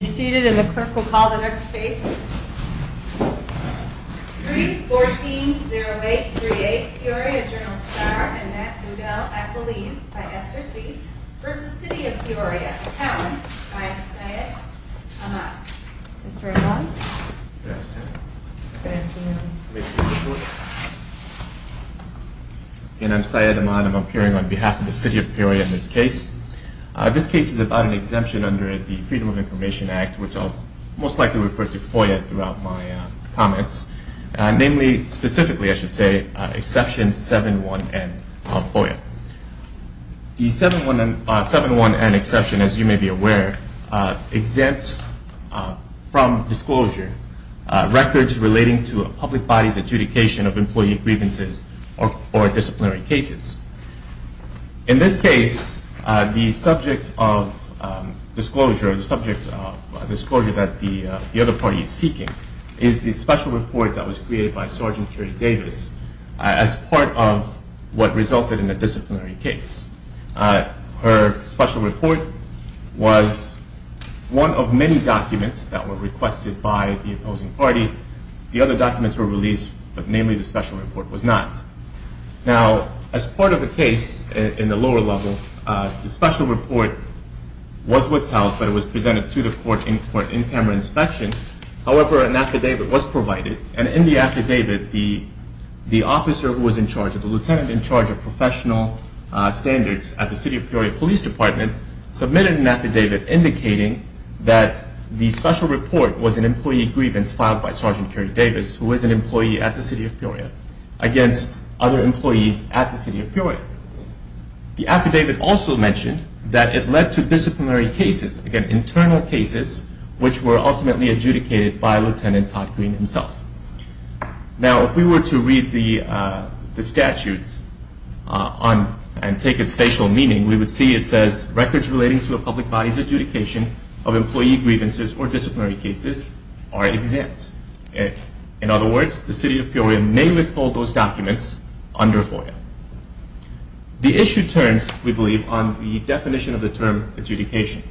Please be seated and the clerk will call the next case. 3-14-08-38 Peoria Journal Star and Matt Ludell at Belize by Esther Seeds v. City of Peoria Account by Syed Ahmad. Mr. Ahmad? Good afternoon. Again, I'm Syed Ahmad. I'm appearing on behalf of the City of Peoria in this case. This case is about an exemption under the Freedom of Information Act, which I'll most likely refer to FOIA throughout my comments. Namely, specifically, I should say, Exception 7-1-N of FOIA. The 7-1-N exception, as you may be aware, exempts from disclosure records relating to a public body's adjudication of employee grievances or disciplinary cases. In this case, the subject of disclosure that the other party is seeking is the special report that was created by Sgt. Curie Davis as part of what resulted in a disciplinary case. Her special report was one of many documents that were requested by the opposing party. The other documents were released, but namely the special report was not. Now, as part of the case in the lower level, the special report was withheld, but it was presented to the court for in-camera inspection. However, an affidavit was provided, and in the affidavit, the officer who was in charge, the lieutenant in charge of professional standards at the City of Peoria Police Department, submitted an affidavit indicating that the special report was an employee grievance filed by Sgt. Curie Davis, who was an employee at the City of Peoria, against other employees at the City of Peoria. The affidavit also mentioned that it led to disciplinary cases, again, internal cases, which were ultimately adjudicated by Lt. Todd Green himself. Now, if we were to read the statute and take its facial meaning, we would see it says, records relating to a public body's adjudication of employee grievances or disciplinary cases are exempt. In other words, the City of Peoria may withhold those documents under FOIA. The issue turns, we believe, on the definition of the term adjudication.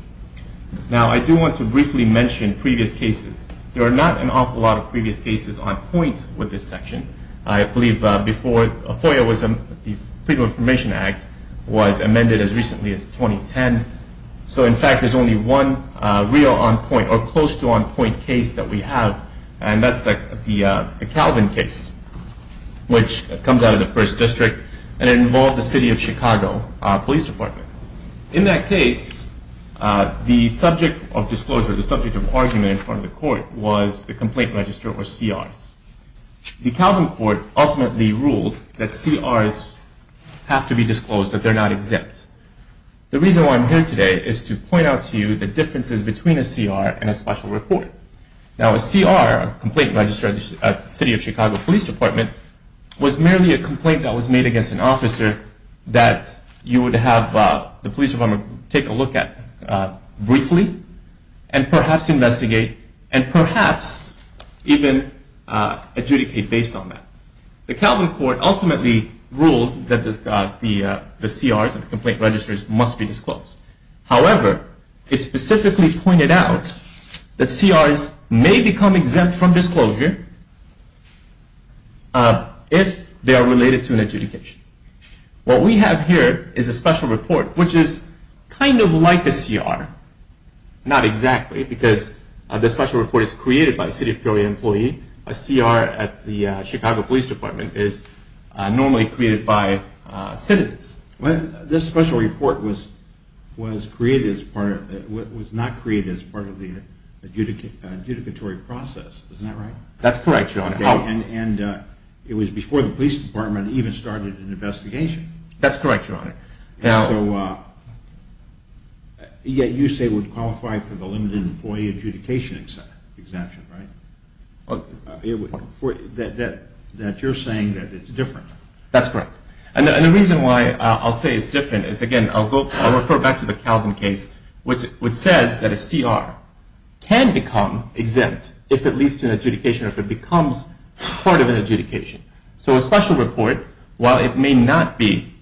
Now, I do want to briefly mention previous cases. There are not an awful lot of previous cases on point with this section. I believe before FOIA, the Freedom of Information Act, was amended as recently as 2010. So, in fact, there's only one real on point or close to on point case that we have, and that's the Calvin case, which comes out of the First District, and it involved the City of Chicago Police Department. In that case, the subject of disclosure, the subject of argument in front of the court, was the complaint register, or CRs. The Calvin court ultimately ruled that CRs have to be disclosed, that they're not exempt. The reason why I'm here today is to point out to you the differences between a CR and a special report. Now, a CR, a complaint register at the City of Chicago Police Department, was merely a complaint that was made against an officer that you would have the police department take a look at briefly, and perhaps investigate, and perhaps even adjudicate based on that. The Calvin court ultimately ruled that the CRs and the complaint registers must be disclosed. However, it specifically pointed out that CRs may become exempt from disclosure if they are related to an adjudication. What we have here is a special report, which is kind of like a CR. Not exactly, because the special report is created by a City of Peoria employee. A CR at the Chicago Police Department is normally created by citizens. This special report was not created as part of the adjudicatory process, isn't that right? That's correct, your honor. And it was before the police department even started an investigation. That's correct, your honor. Yet you say it would qualify for the limited employee adjudication exemption, right? That you're saying that it's different. That's correct. And the reason why I'll say it's different is, again, I'll refer back to the Calvin case, which says that a CR can become exempt if it leads to an adjudication or if it becomes part of an adjudication. So a special report, while it may be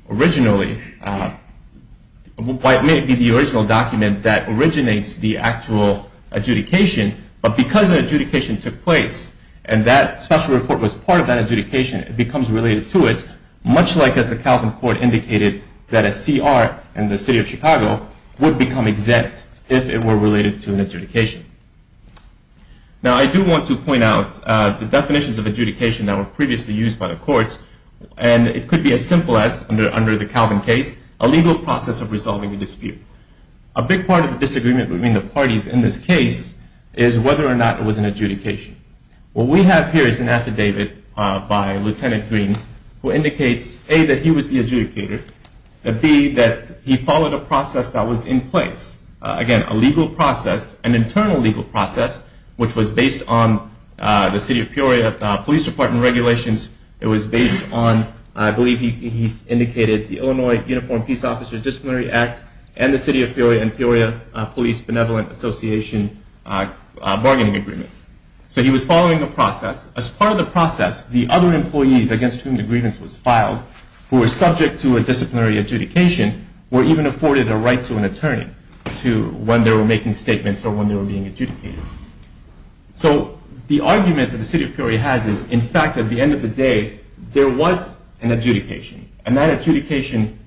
the original document that originates the actual adjudication, but because an adjudication took place and that special report was part of that adjudication, it becomes related to it, much like as the Calvin court indicated, that a CR in the city of Chicago would become exempt if it were related to an adjudication. Now, I do want to point out the definitions of adjudication that were previously used by the courts, and it could be as simple as, under the Calvin case, a legal process of resolving a dispute. A big part of the disagreement between the parties in this case is whether or not it was an adjudication. What we have here is an affidavit by Lieutenant Green who indicates, A, that he was the adjudicator, and B, that he followed a process that was in place. Again, a legal process, an internal legal process, which was based on the city of Peoria police department regulations. It was based on, I believe he indicated, the Illinois Uniformed Peace Officers Disciplinary Act and the city of Peoria and Peoria Police Benevolent Association bargaining agreement. So he was following the process. As part of the process, the other employees against whom the grievance was filed, who were subject to a disciplinary adjudication, were even afforded a right to an attorney when they were making statements or when they were being adjudicated. So the argument that the city of Peoria has is, in fact, at the end of the day, there was an adjudication, and that adjudication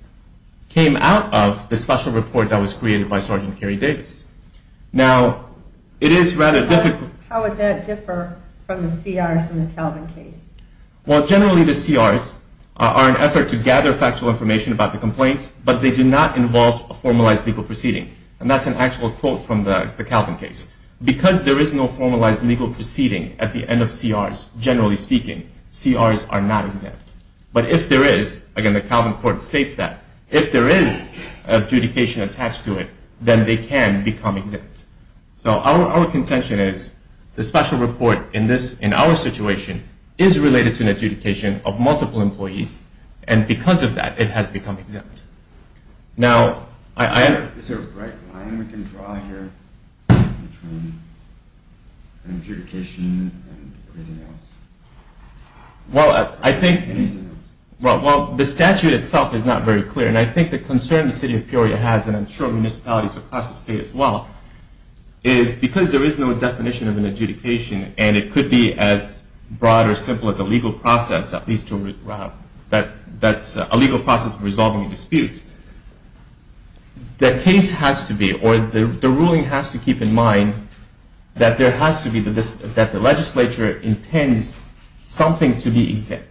came out of the special report that was created by Sergeant Kerry Davis. Now, it is rather difficult. How would that differ from the CRs in the Calvin case? Well, generally the CRs are an effort to gather factual information about the complaints, but they do not involve a formalized legal proceeding, and that's an actual quote from the Calvin case. Because there is no formalized legal proceeding at the end of CRs, generally speaking, CRs are not exempt. But if there is, again, the Calvin court states that, if there is adjudication attached to it, then they can become exempt. So our contention is the special report in our situation is related to an adjudication of multiple employees, and because of that, it has become exempt. Now, I am... Is there a bright line we can draw here between adjudication and everything else? Well, I think... Well, the statute itself is not very clear, and I think the concern the city of Peoria has, and I'm sure municipalities across the state as well, is because there is no definition of an adjudication, and it could be as broad or simple as a legal process, at least to... that's a legal process of resolving a dispute. The case has to be, or the ruling has to keep in mind, that there has to be, that the legislature intends something to be exempt.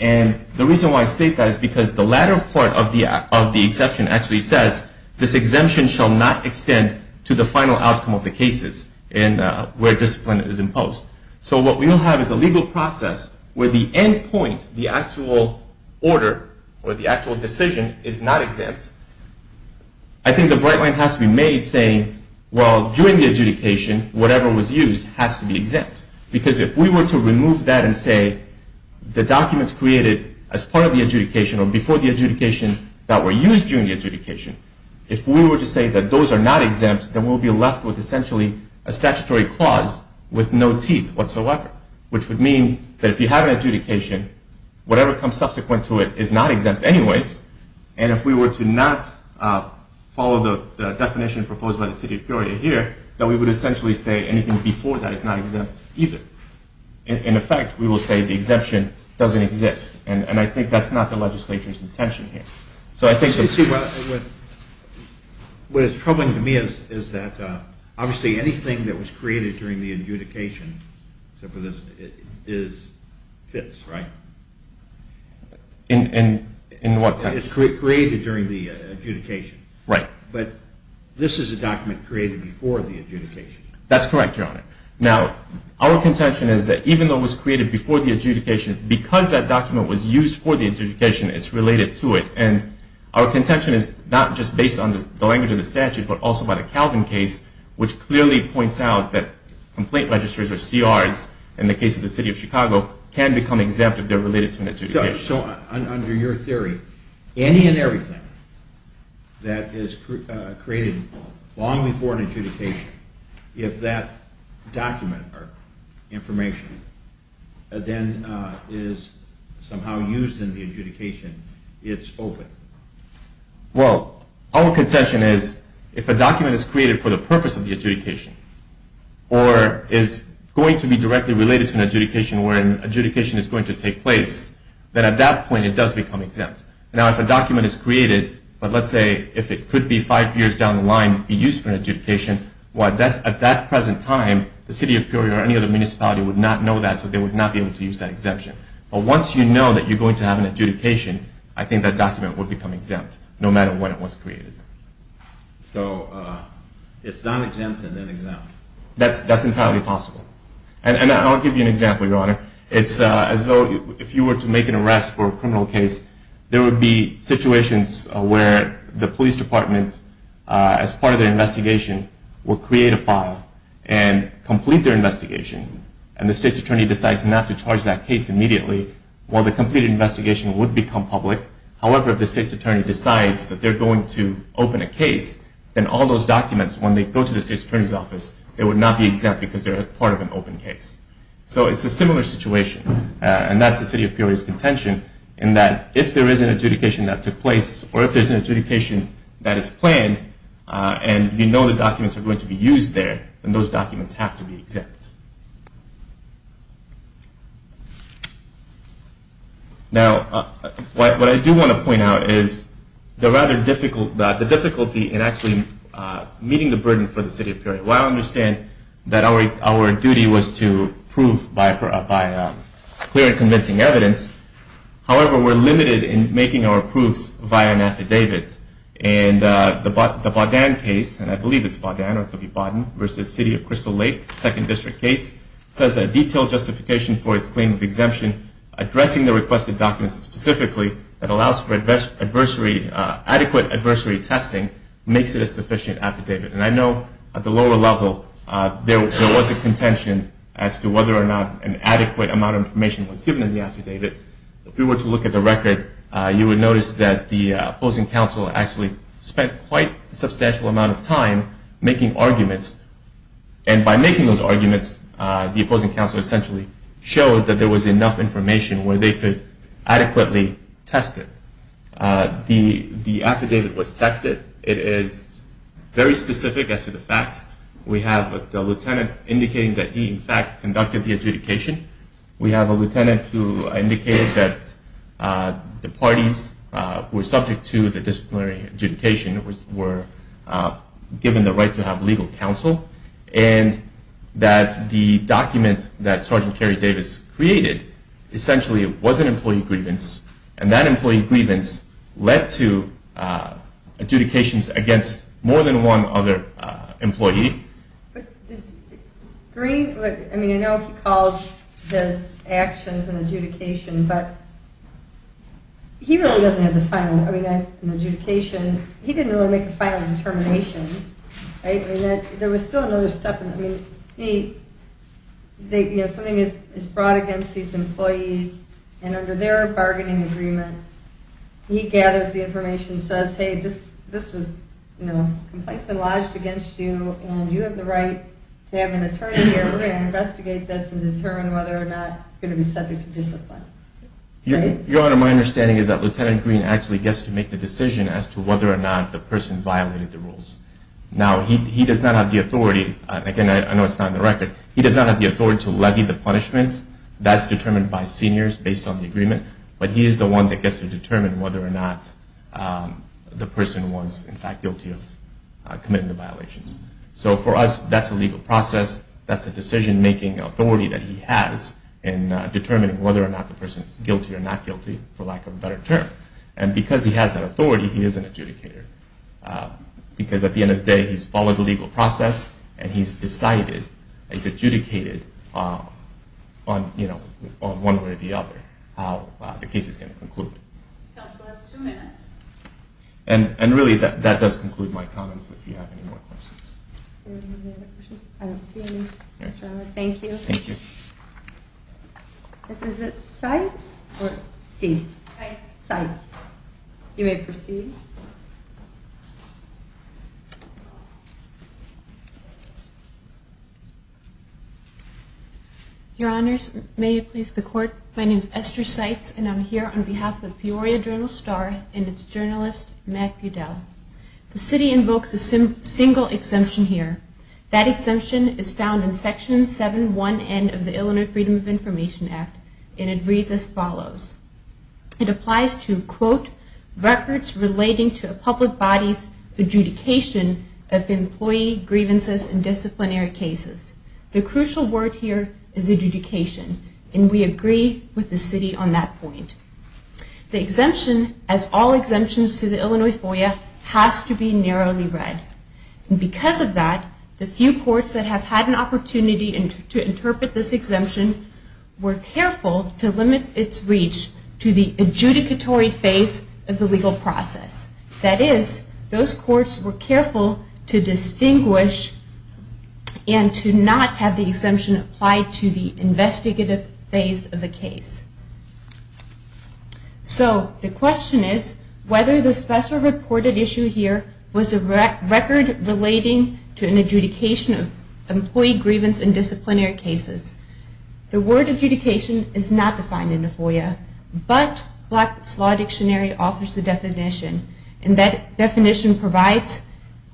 And the reason why I state that is because the latter part of the exception actually says, this exemption shall not extend to the final outcome of the cases where discipline is imposed. So what we will have is a legal process where the end point, the actual order, or the actual decision, is not exempt. I think the bright line has to be made saying, well, during the adjudication, whatever was used has to be exempt. Because if we were to remove that and say, the documents created as part of the adjudication or before the adjudication that were used during the adjudication, if we were to say that those are not exempt, then we'll be left with essentially a statutory clause with no teeth whatsoever. Which would mean that if you have an adjudication, whatever comes subsequent to it is not exempt anyways, and if we were to not follow the definition proposed by the city of Peoria here, then we would essentially say anything before that is not exempt either. In effect, we will say the exemption doesn't exist, and I think that's not the legislature's intention here. So I think that... You see, what is troubling to me is that, obviously, anything that was created during the adjudication, except for this, fits, right? In what sense? It's created during the adjudication. Right. But this is a document created before the adjudication. That's correct, Your Honor. Now, our contention is that even though it was created before the adjudication, because that document was used for the adjudication, it's related to it. And our contention is not just based on the language of the statute, but also by the Calvin case, which clearly points out that complaint registrars, or CRs, in the case of the city of Chicago, can become exempt if they're related to an adjudication. So under your theory, any and everything that is created long before an adjudication, if that document or information then is somehow used in the adjudication, it's open. Well, our contention is if a document is created for the purpose of the adjudication or is going to be directly related to an adjudication where an adjudication is going to take place, then at that point it does become exempt. Now, if a document is created, but let's say if it could be five years down the line, be used for an adjudication, well, at that present time, the city of Peoria or any other municipality would not know that, so they would not be able to use that exemption. But once you know that you're going to have an adjudication, I think that document would become exempt, no matter when it was created. So it's non-exempt and then exempt. That's entirely possible. And I'll give you an example, Your Honor. It's as though if you were to make an arrest for a criminal case, there would be situations where the police department, as part of their investigation, would create a file and complete their investigation, and the state's attorney decides not to charge that case immediately. Well, the completed investigation would become public. However, if the state's attorney decides that they're going to open a case, then all those documents, when they go to the state's attorney's office, they would not be exempt because they're part of an open case. So it's a similar situation, and that's the city of Peoria's intention, in that if there is an adjudication that took place, or if there's an adjudication that is planned, and you know the documents are going to be used there, then those documents have to be exempt. Now, what I do want to point out is the difficulty in actually meeting the burden for the city of Peoria. While I understand that our duty was to prove by clear and convincing evidence, however, we're limited in making our proofs via an affidavit. And the Bodan case, and I believe it's Bodan, or it could be Bodan, versus City of Crystal Lake, Second District, says that a detailed justification for its claim of exemption, addressing the requested documents specifically, that allows for adequate adversary testing, makes it a sufficient affidavit. And I know at the lower level there was a contention as to whether or not an adequate amount of information was given in the affidavit. If you were to look at the record, you would notice that the opposing counsel actually spent quite a substantial amount of time making arguments. And by making those arguments, the opposing counsel essentially showed that there was enough information where they could adequately test it. The affidavit was tested. It is very specific as to the facts. We have the lieutenant indicating that he, in fact, conducted the adjudication. We have a lieutenant who indicated that the parties who were subject to the disciplinary adjudication were given the right to have legal counsel, and that the document that Sergeant Kerry Davis created, essentially it was an employee grievance, and that employee grievance led to adjudications against more than one other employee. Green, I mean, I know he called his actions an adjudication, but he really doesn't have the final word on adjudication. He didn't really make a final determination. There was still another step. I mean, something is brought against these employees, and under their bargaining agreement he gathers the information and says, hey, this complaint has been lodged against you, and you have the right to have an attorney here. We're going to investigate this and determine whether or not you're going to be subject to discipline. Your Honor, my understanding is that Lieutenant Green actually gets to make the decision as to whether or not the person violated the rules. Now, he does not have the authority. Again, I know it's not in the record. He does not have the authority to levy the punishment. That's determined by seniors based on the agreement, but he is the one that gets to determine whether or not the person was, in fact, guilty of committing the violations. So for us, that's a legal process. That's a decision-making authority that he has in determining whether or not the person is guilty or not guilty, for lack of a better term. And because he has that authority, he is an adjudicator. Because at the end of the day, he's followed the legal process, and he's decided, he's adjudicated on one way or the other how the case is going to conclude. Counsel, that's two minutes. And really, that does conclude my comments. If you have any more questions. I don't see any. Yes, Your Honor. Thank you. Thank you. This is at Sites or C? Sites. Sites. You may proceed. Your Honors, may it please the Court, my name is Esther Sites, and I'm here on behalf of Peoria Journal-Star and its journalist, Matthew Dell. The city invokes a single exemption here. That exemption is found in Section 7-1N of the Illinois Freedom of Information Act, and it reads as follows. It applies to, quote, records relating to a public body's adjudication of employee grievances in disciplinary cases. The crucial word here is adjudication, and we agree with the city on that point. The exemption, as all exemptions to the Illinois FOIA, has to be narrowly read. And because of that, the few courts that have had an opportunity to interpret this exemption were careful to limit its reach to the adjudicatory phase of the legal process. That is, those courts were careful to distinguish and to not have the exemption apply to the investigative phase of the case. So, the question is whether the special reported issue here was a record relating to an adjudication of employee grievance in disciplinary cases. The word adjudication is not defined in the FOIA, but Black's Law Dictionary offers a definition, and that definition provides,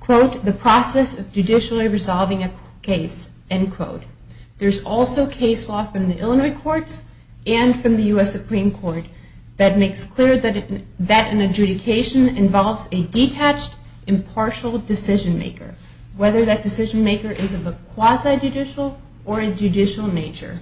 quote, the process of judicially resolving a case, end quote. There's also case law from the Illinois courts and from the U.S. Supreme Court that makes clear that an adjudication involves a detached, impartial decision maker, whether that decision maker is of a quasi-judicial or a judicial nature.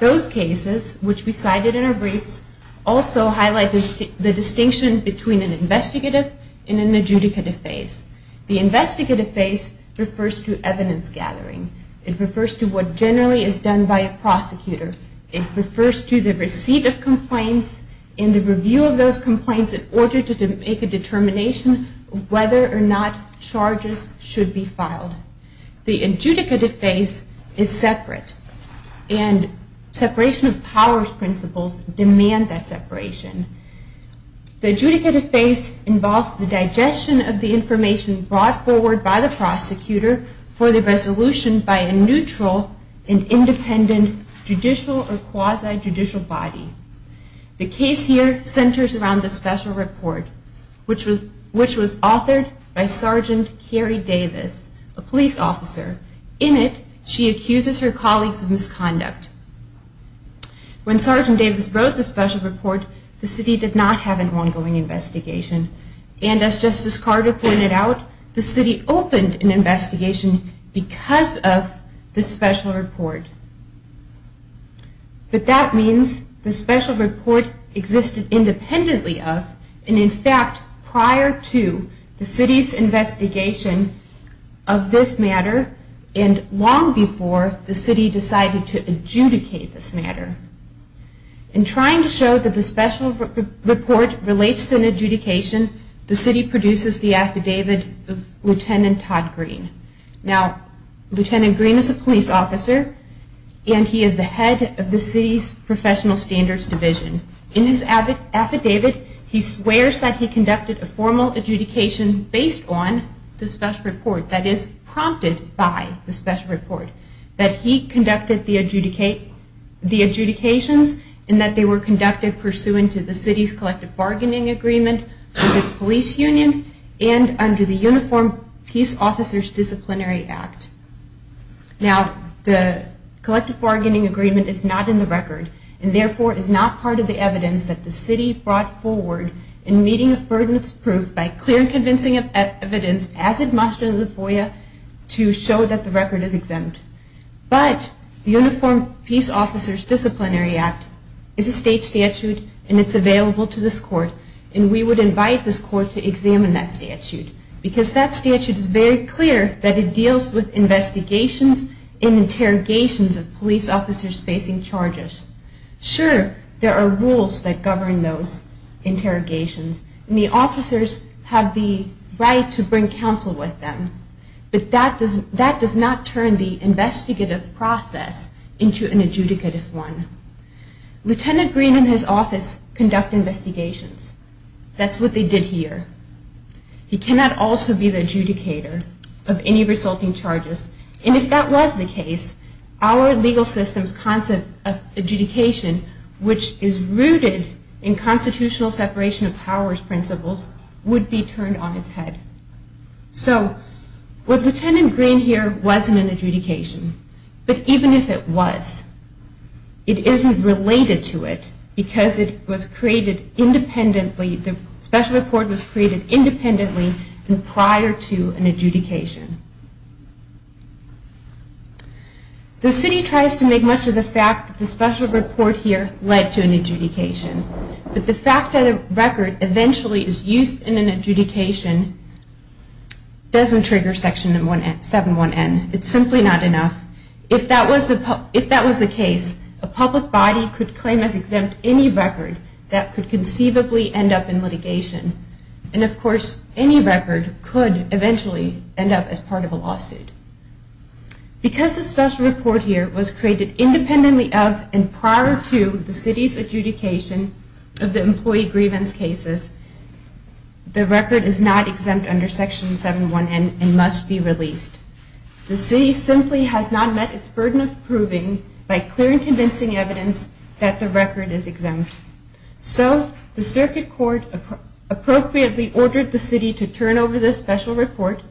Those cases, which we cited in our briefs, also highlight the distinction between an investigative and an adjudicative phase. The investigative phase refers to evidence gathering. It refers to what generally is done by a prosecutor. It refers to the receipt of complaints and the review of those complaints in order to make a determination whether or not charges should be filed. The adjudicative phase is separate, and separation of powers principles demand that separation. The adjudicative phase involves the digestion of the information brought forward by the prosecutor for the resolution by a neutral and independent judicial or quasi-judicial body. The case here centers around the special report, which was authored by Sgt. Carrie Davis, a police officer. In it, she accuses her colleagues of misconduct. When Sgt. Davis wrote the special report, the city did not have an ongoing investigation, and as Justice Carter pointed out, the city opened an investigation because of the special report. But that means the special report existed independently of, and in fact prior to, the city's investigation of this matter and long before the city decided to adjudicate this matter. In trying to show that the special report relates to an adjudication, the city produces the affidavit of Lt. Todd Green. Now, Lt. Green is a police officer, and he is the head of the city's professional standards division. In his affidavit, he swears that he conducted a formal adjudication based on the special report, that is prompted by the special report, that he conducted the adjudications, and that they were conducted pursuant to the city's collective bargaining agreement with its police union, and under the Uniformed Peace Officers Disciplinary Act. Now, the collective bargaining agreement is not in the record, and therefore is not part of the evidence that the city brought forward in meeting of burden of proof by clear and convincing evidence, as it must in the FOIA, to show that the record is exempt. But the Uniformed Peace Officers Disciplinary Act is a state statute, and it's available to this court, and we would invite this court to examine that statute, because that statute is very clear that it deals with investigations and interrogations of police officers facing charges. Sure, there are rules that govern those interrogations, and the officers have the right to bring counsel with them, but that does not turn the investigative process into an adjudicative one. Lieutenant Green and his office conduct investigations. That's what they did here. He cannot also be the adjudicator of any resulting charges, and if that was the case, our legal system's concept of adjudication, which is rooted in constitutional separation of powers principles, would be turned on its head. So, what Lieutenant Green here wasn't an adjudication, but even if it was, it isn't related to it, because it was created independently. The special report was created independently and prior to an adjudication. The city tries to make much of the fact that the special report here led to an adjudication, but the fact that a record eventually is used in an adjudication doesn't trigger Section 7-1N. It's simply not enough. If that was the case, a public body could claim as exempt any record that could conceivably end up in litigation, and of course, any record could eventually end up as part of a lawsuit. Because the special report here was created independently of and prior to the city's adjudication of the employee grievance cases, the record is not exempt under Section 7-1N and must be released. The city simply has not met its burden of proving by clear and convincing evidence that the record is exempt. So, the circuit court appropriately ordered the city to turn over the special report,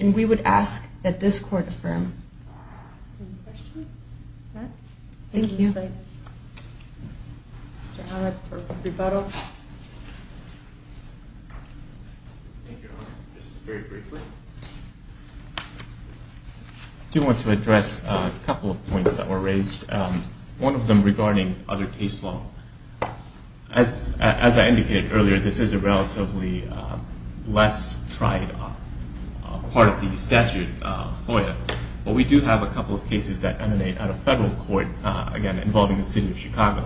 and we would ask that this court affirm. Any questions? Thank you. Thank you. Mr. Allen for rebuttal. Thank you, Your Honor. Just very briefly, I do want to address a couple of points that were raised, one of them regarding other case law. As I indicated earlier, this is a relatively less tried part of the statute FOIA, but we do have a couple of cases that emanate out of federal court, again, involving the city of Chicago.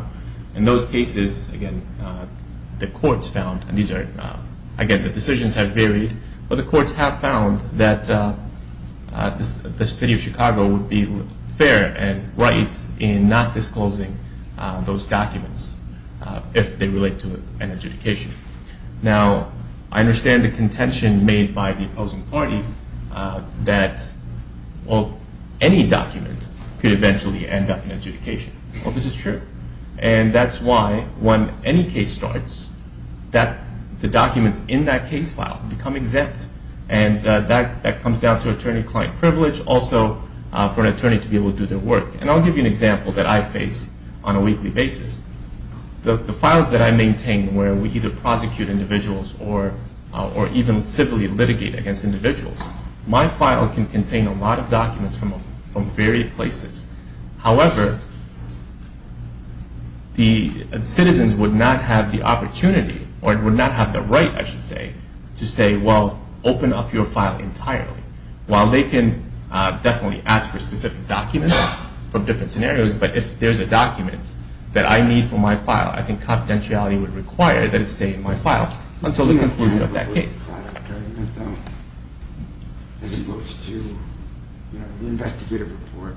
In those cases, again, the courts found, and these are, again, the decisions have varied, but the courts have found that the city of Chicago would be fair and right in not disclosing those documents if they relate to an adjudication. Now, I understand the contention made by the opposing party that, well, any document could eventually end up in adjudication. Well, this is true. And that's why when any case starts, the documents in that case file become exempt, and that comes down to attorney-client privilege, also for an attorney to be able to do their work. And I'll give you an example that I face on a weekly basis. The files that I maintain where we either prosecute individuals or even civilly litigate against individuals, my file can contain a lot of documents from varied places. However, the citizens would not have the opportunity or would not have the right, I should say, to say, well, open up your file entirely. While they can definitely ask for specific documents from different scenarios, but if there's a document that I need for my file, I think confidentiality would require that it stay in my file until the conclusion of that case. The outside argument, though, as opposed to the investigative report,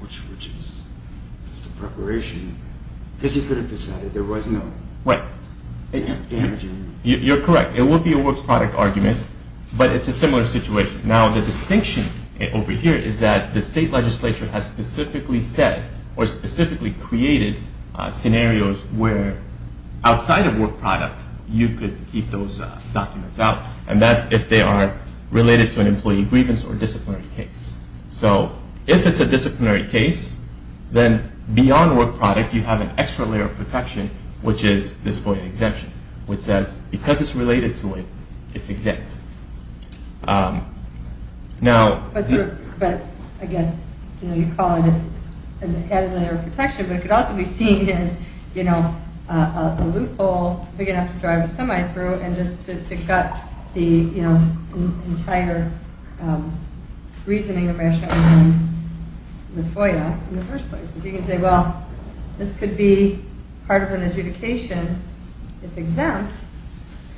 which is just a preparation. I guess you could have decided there was no damaging. You're correct. It would be a work product argument, but it's a similar situation. Now, the distinction over here is that the state legislature has specifically said or specifically created scenarios where outside of work product, you could keep those documents out, and that's if they are related to an employee grievance or disciplinary case. So if it's a disciplinary case, then beyond work product, you have an extra layer of protection, which is this FOIA exemption, which says because it's related to it, it's exempt. But I guess you call it an added layer of protection, but it could also be seen as a loophole big enough to drive a semi through and just to cut the entire reasoning of rationality in the FOIA in the first place. You can say, well, this could be part of an adjudication. It's exempt,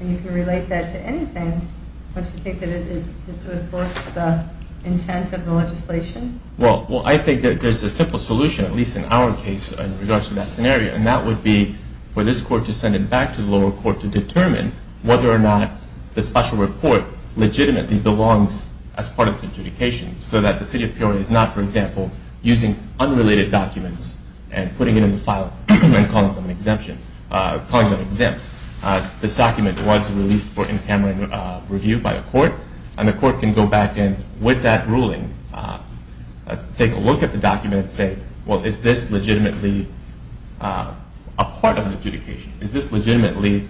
and you can relate that to anything. Don't you think that it sort of thwarts the intent of the legislation? Well, I think that there's a simple solution, at least in our case, in regards to that scenario, and that would be for this court to send it back to the lower court to determine whether or not the special report legitimately belongs as part of this adjudication so that the city of Peoria is not, for example, using unrelated documents and putting it in the file and calling them exempt. This document was released for in-camera review by the court, and the court can go back in with that ruling, take a look at the document, and say, well, is this legitimately a part of the adjudication? Is this legitimately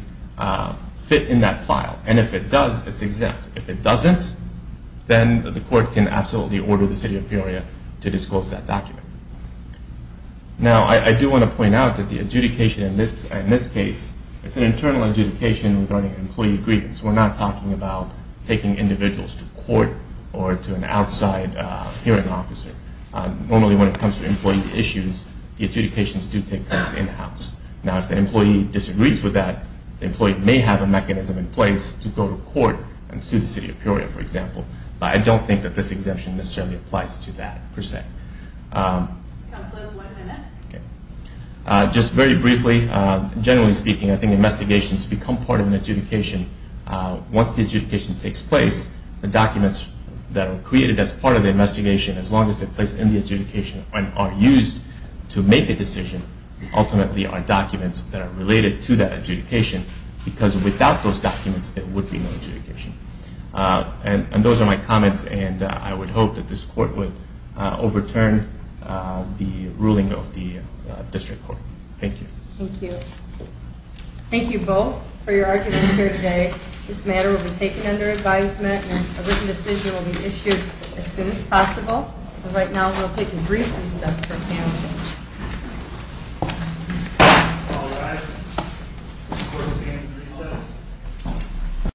fit in that file? And if it does, it's exempt. If it doesn't, then the court can absolutely order the city of Peoria to disclose that document. Now, I do want to point out that the adjudication in this case, it's an internal adjudication regarding employee grievance. We're not talking about taking individuals to court or to an outside hearing officer. Normally, when it comes to employee issues, the adjudications do take place in-house. Now, if the employee disagrees with that, the employee may have a mechanism in place to go to court and sue the city of Peoria, for example, but I don't think that this exemption necessarily applies to that, per se. Counselors, one minute. Just very briefly, generally speaking, I think investigations become part of an adjudication. Once the adjudication takes place, the documents that are created as part of the investigation, as long as they're placed in the adjudication and are used to make a decision, ultimately are documents that are related to that adjudication, because without those documents, there would be no adjudication. And those are my comments, and I would hope that this court would overturn the ruling of the district court. Thank you. Thank you. Thank you both for your arguments here today. This matter will be taken under advisement, and a written decision will be issued as soon as possible. And right now, we'll take a brief recess for panel discussion. All rise. The court is being recessed.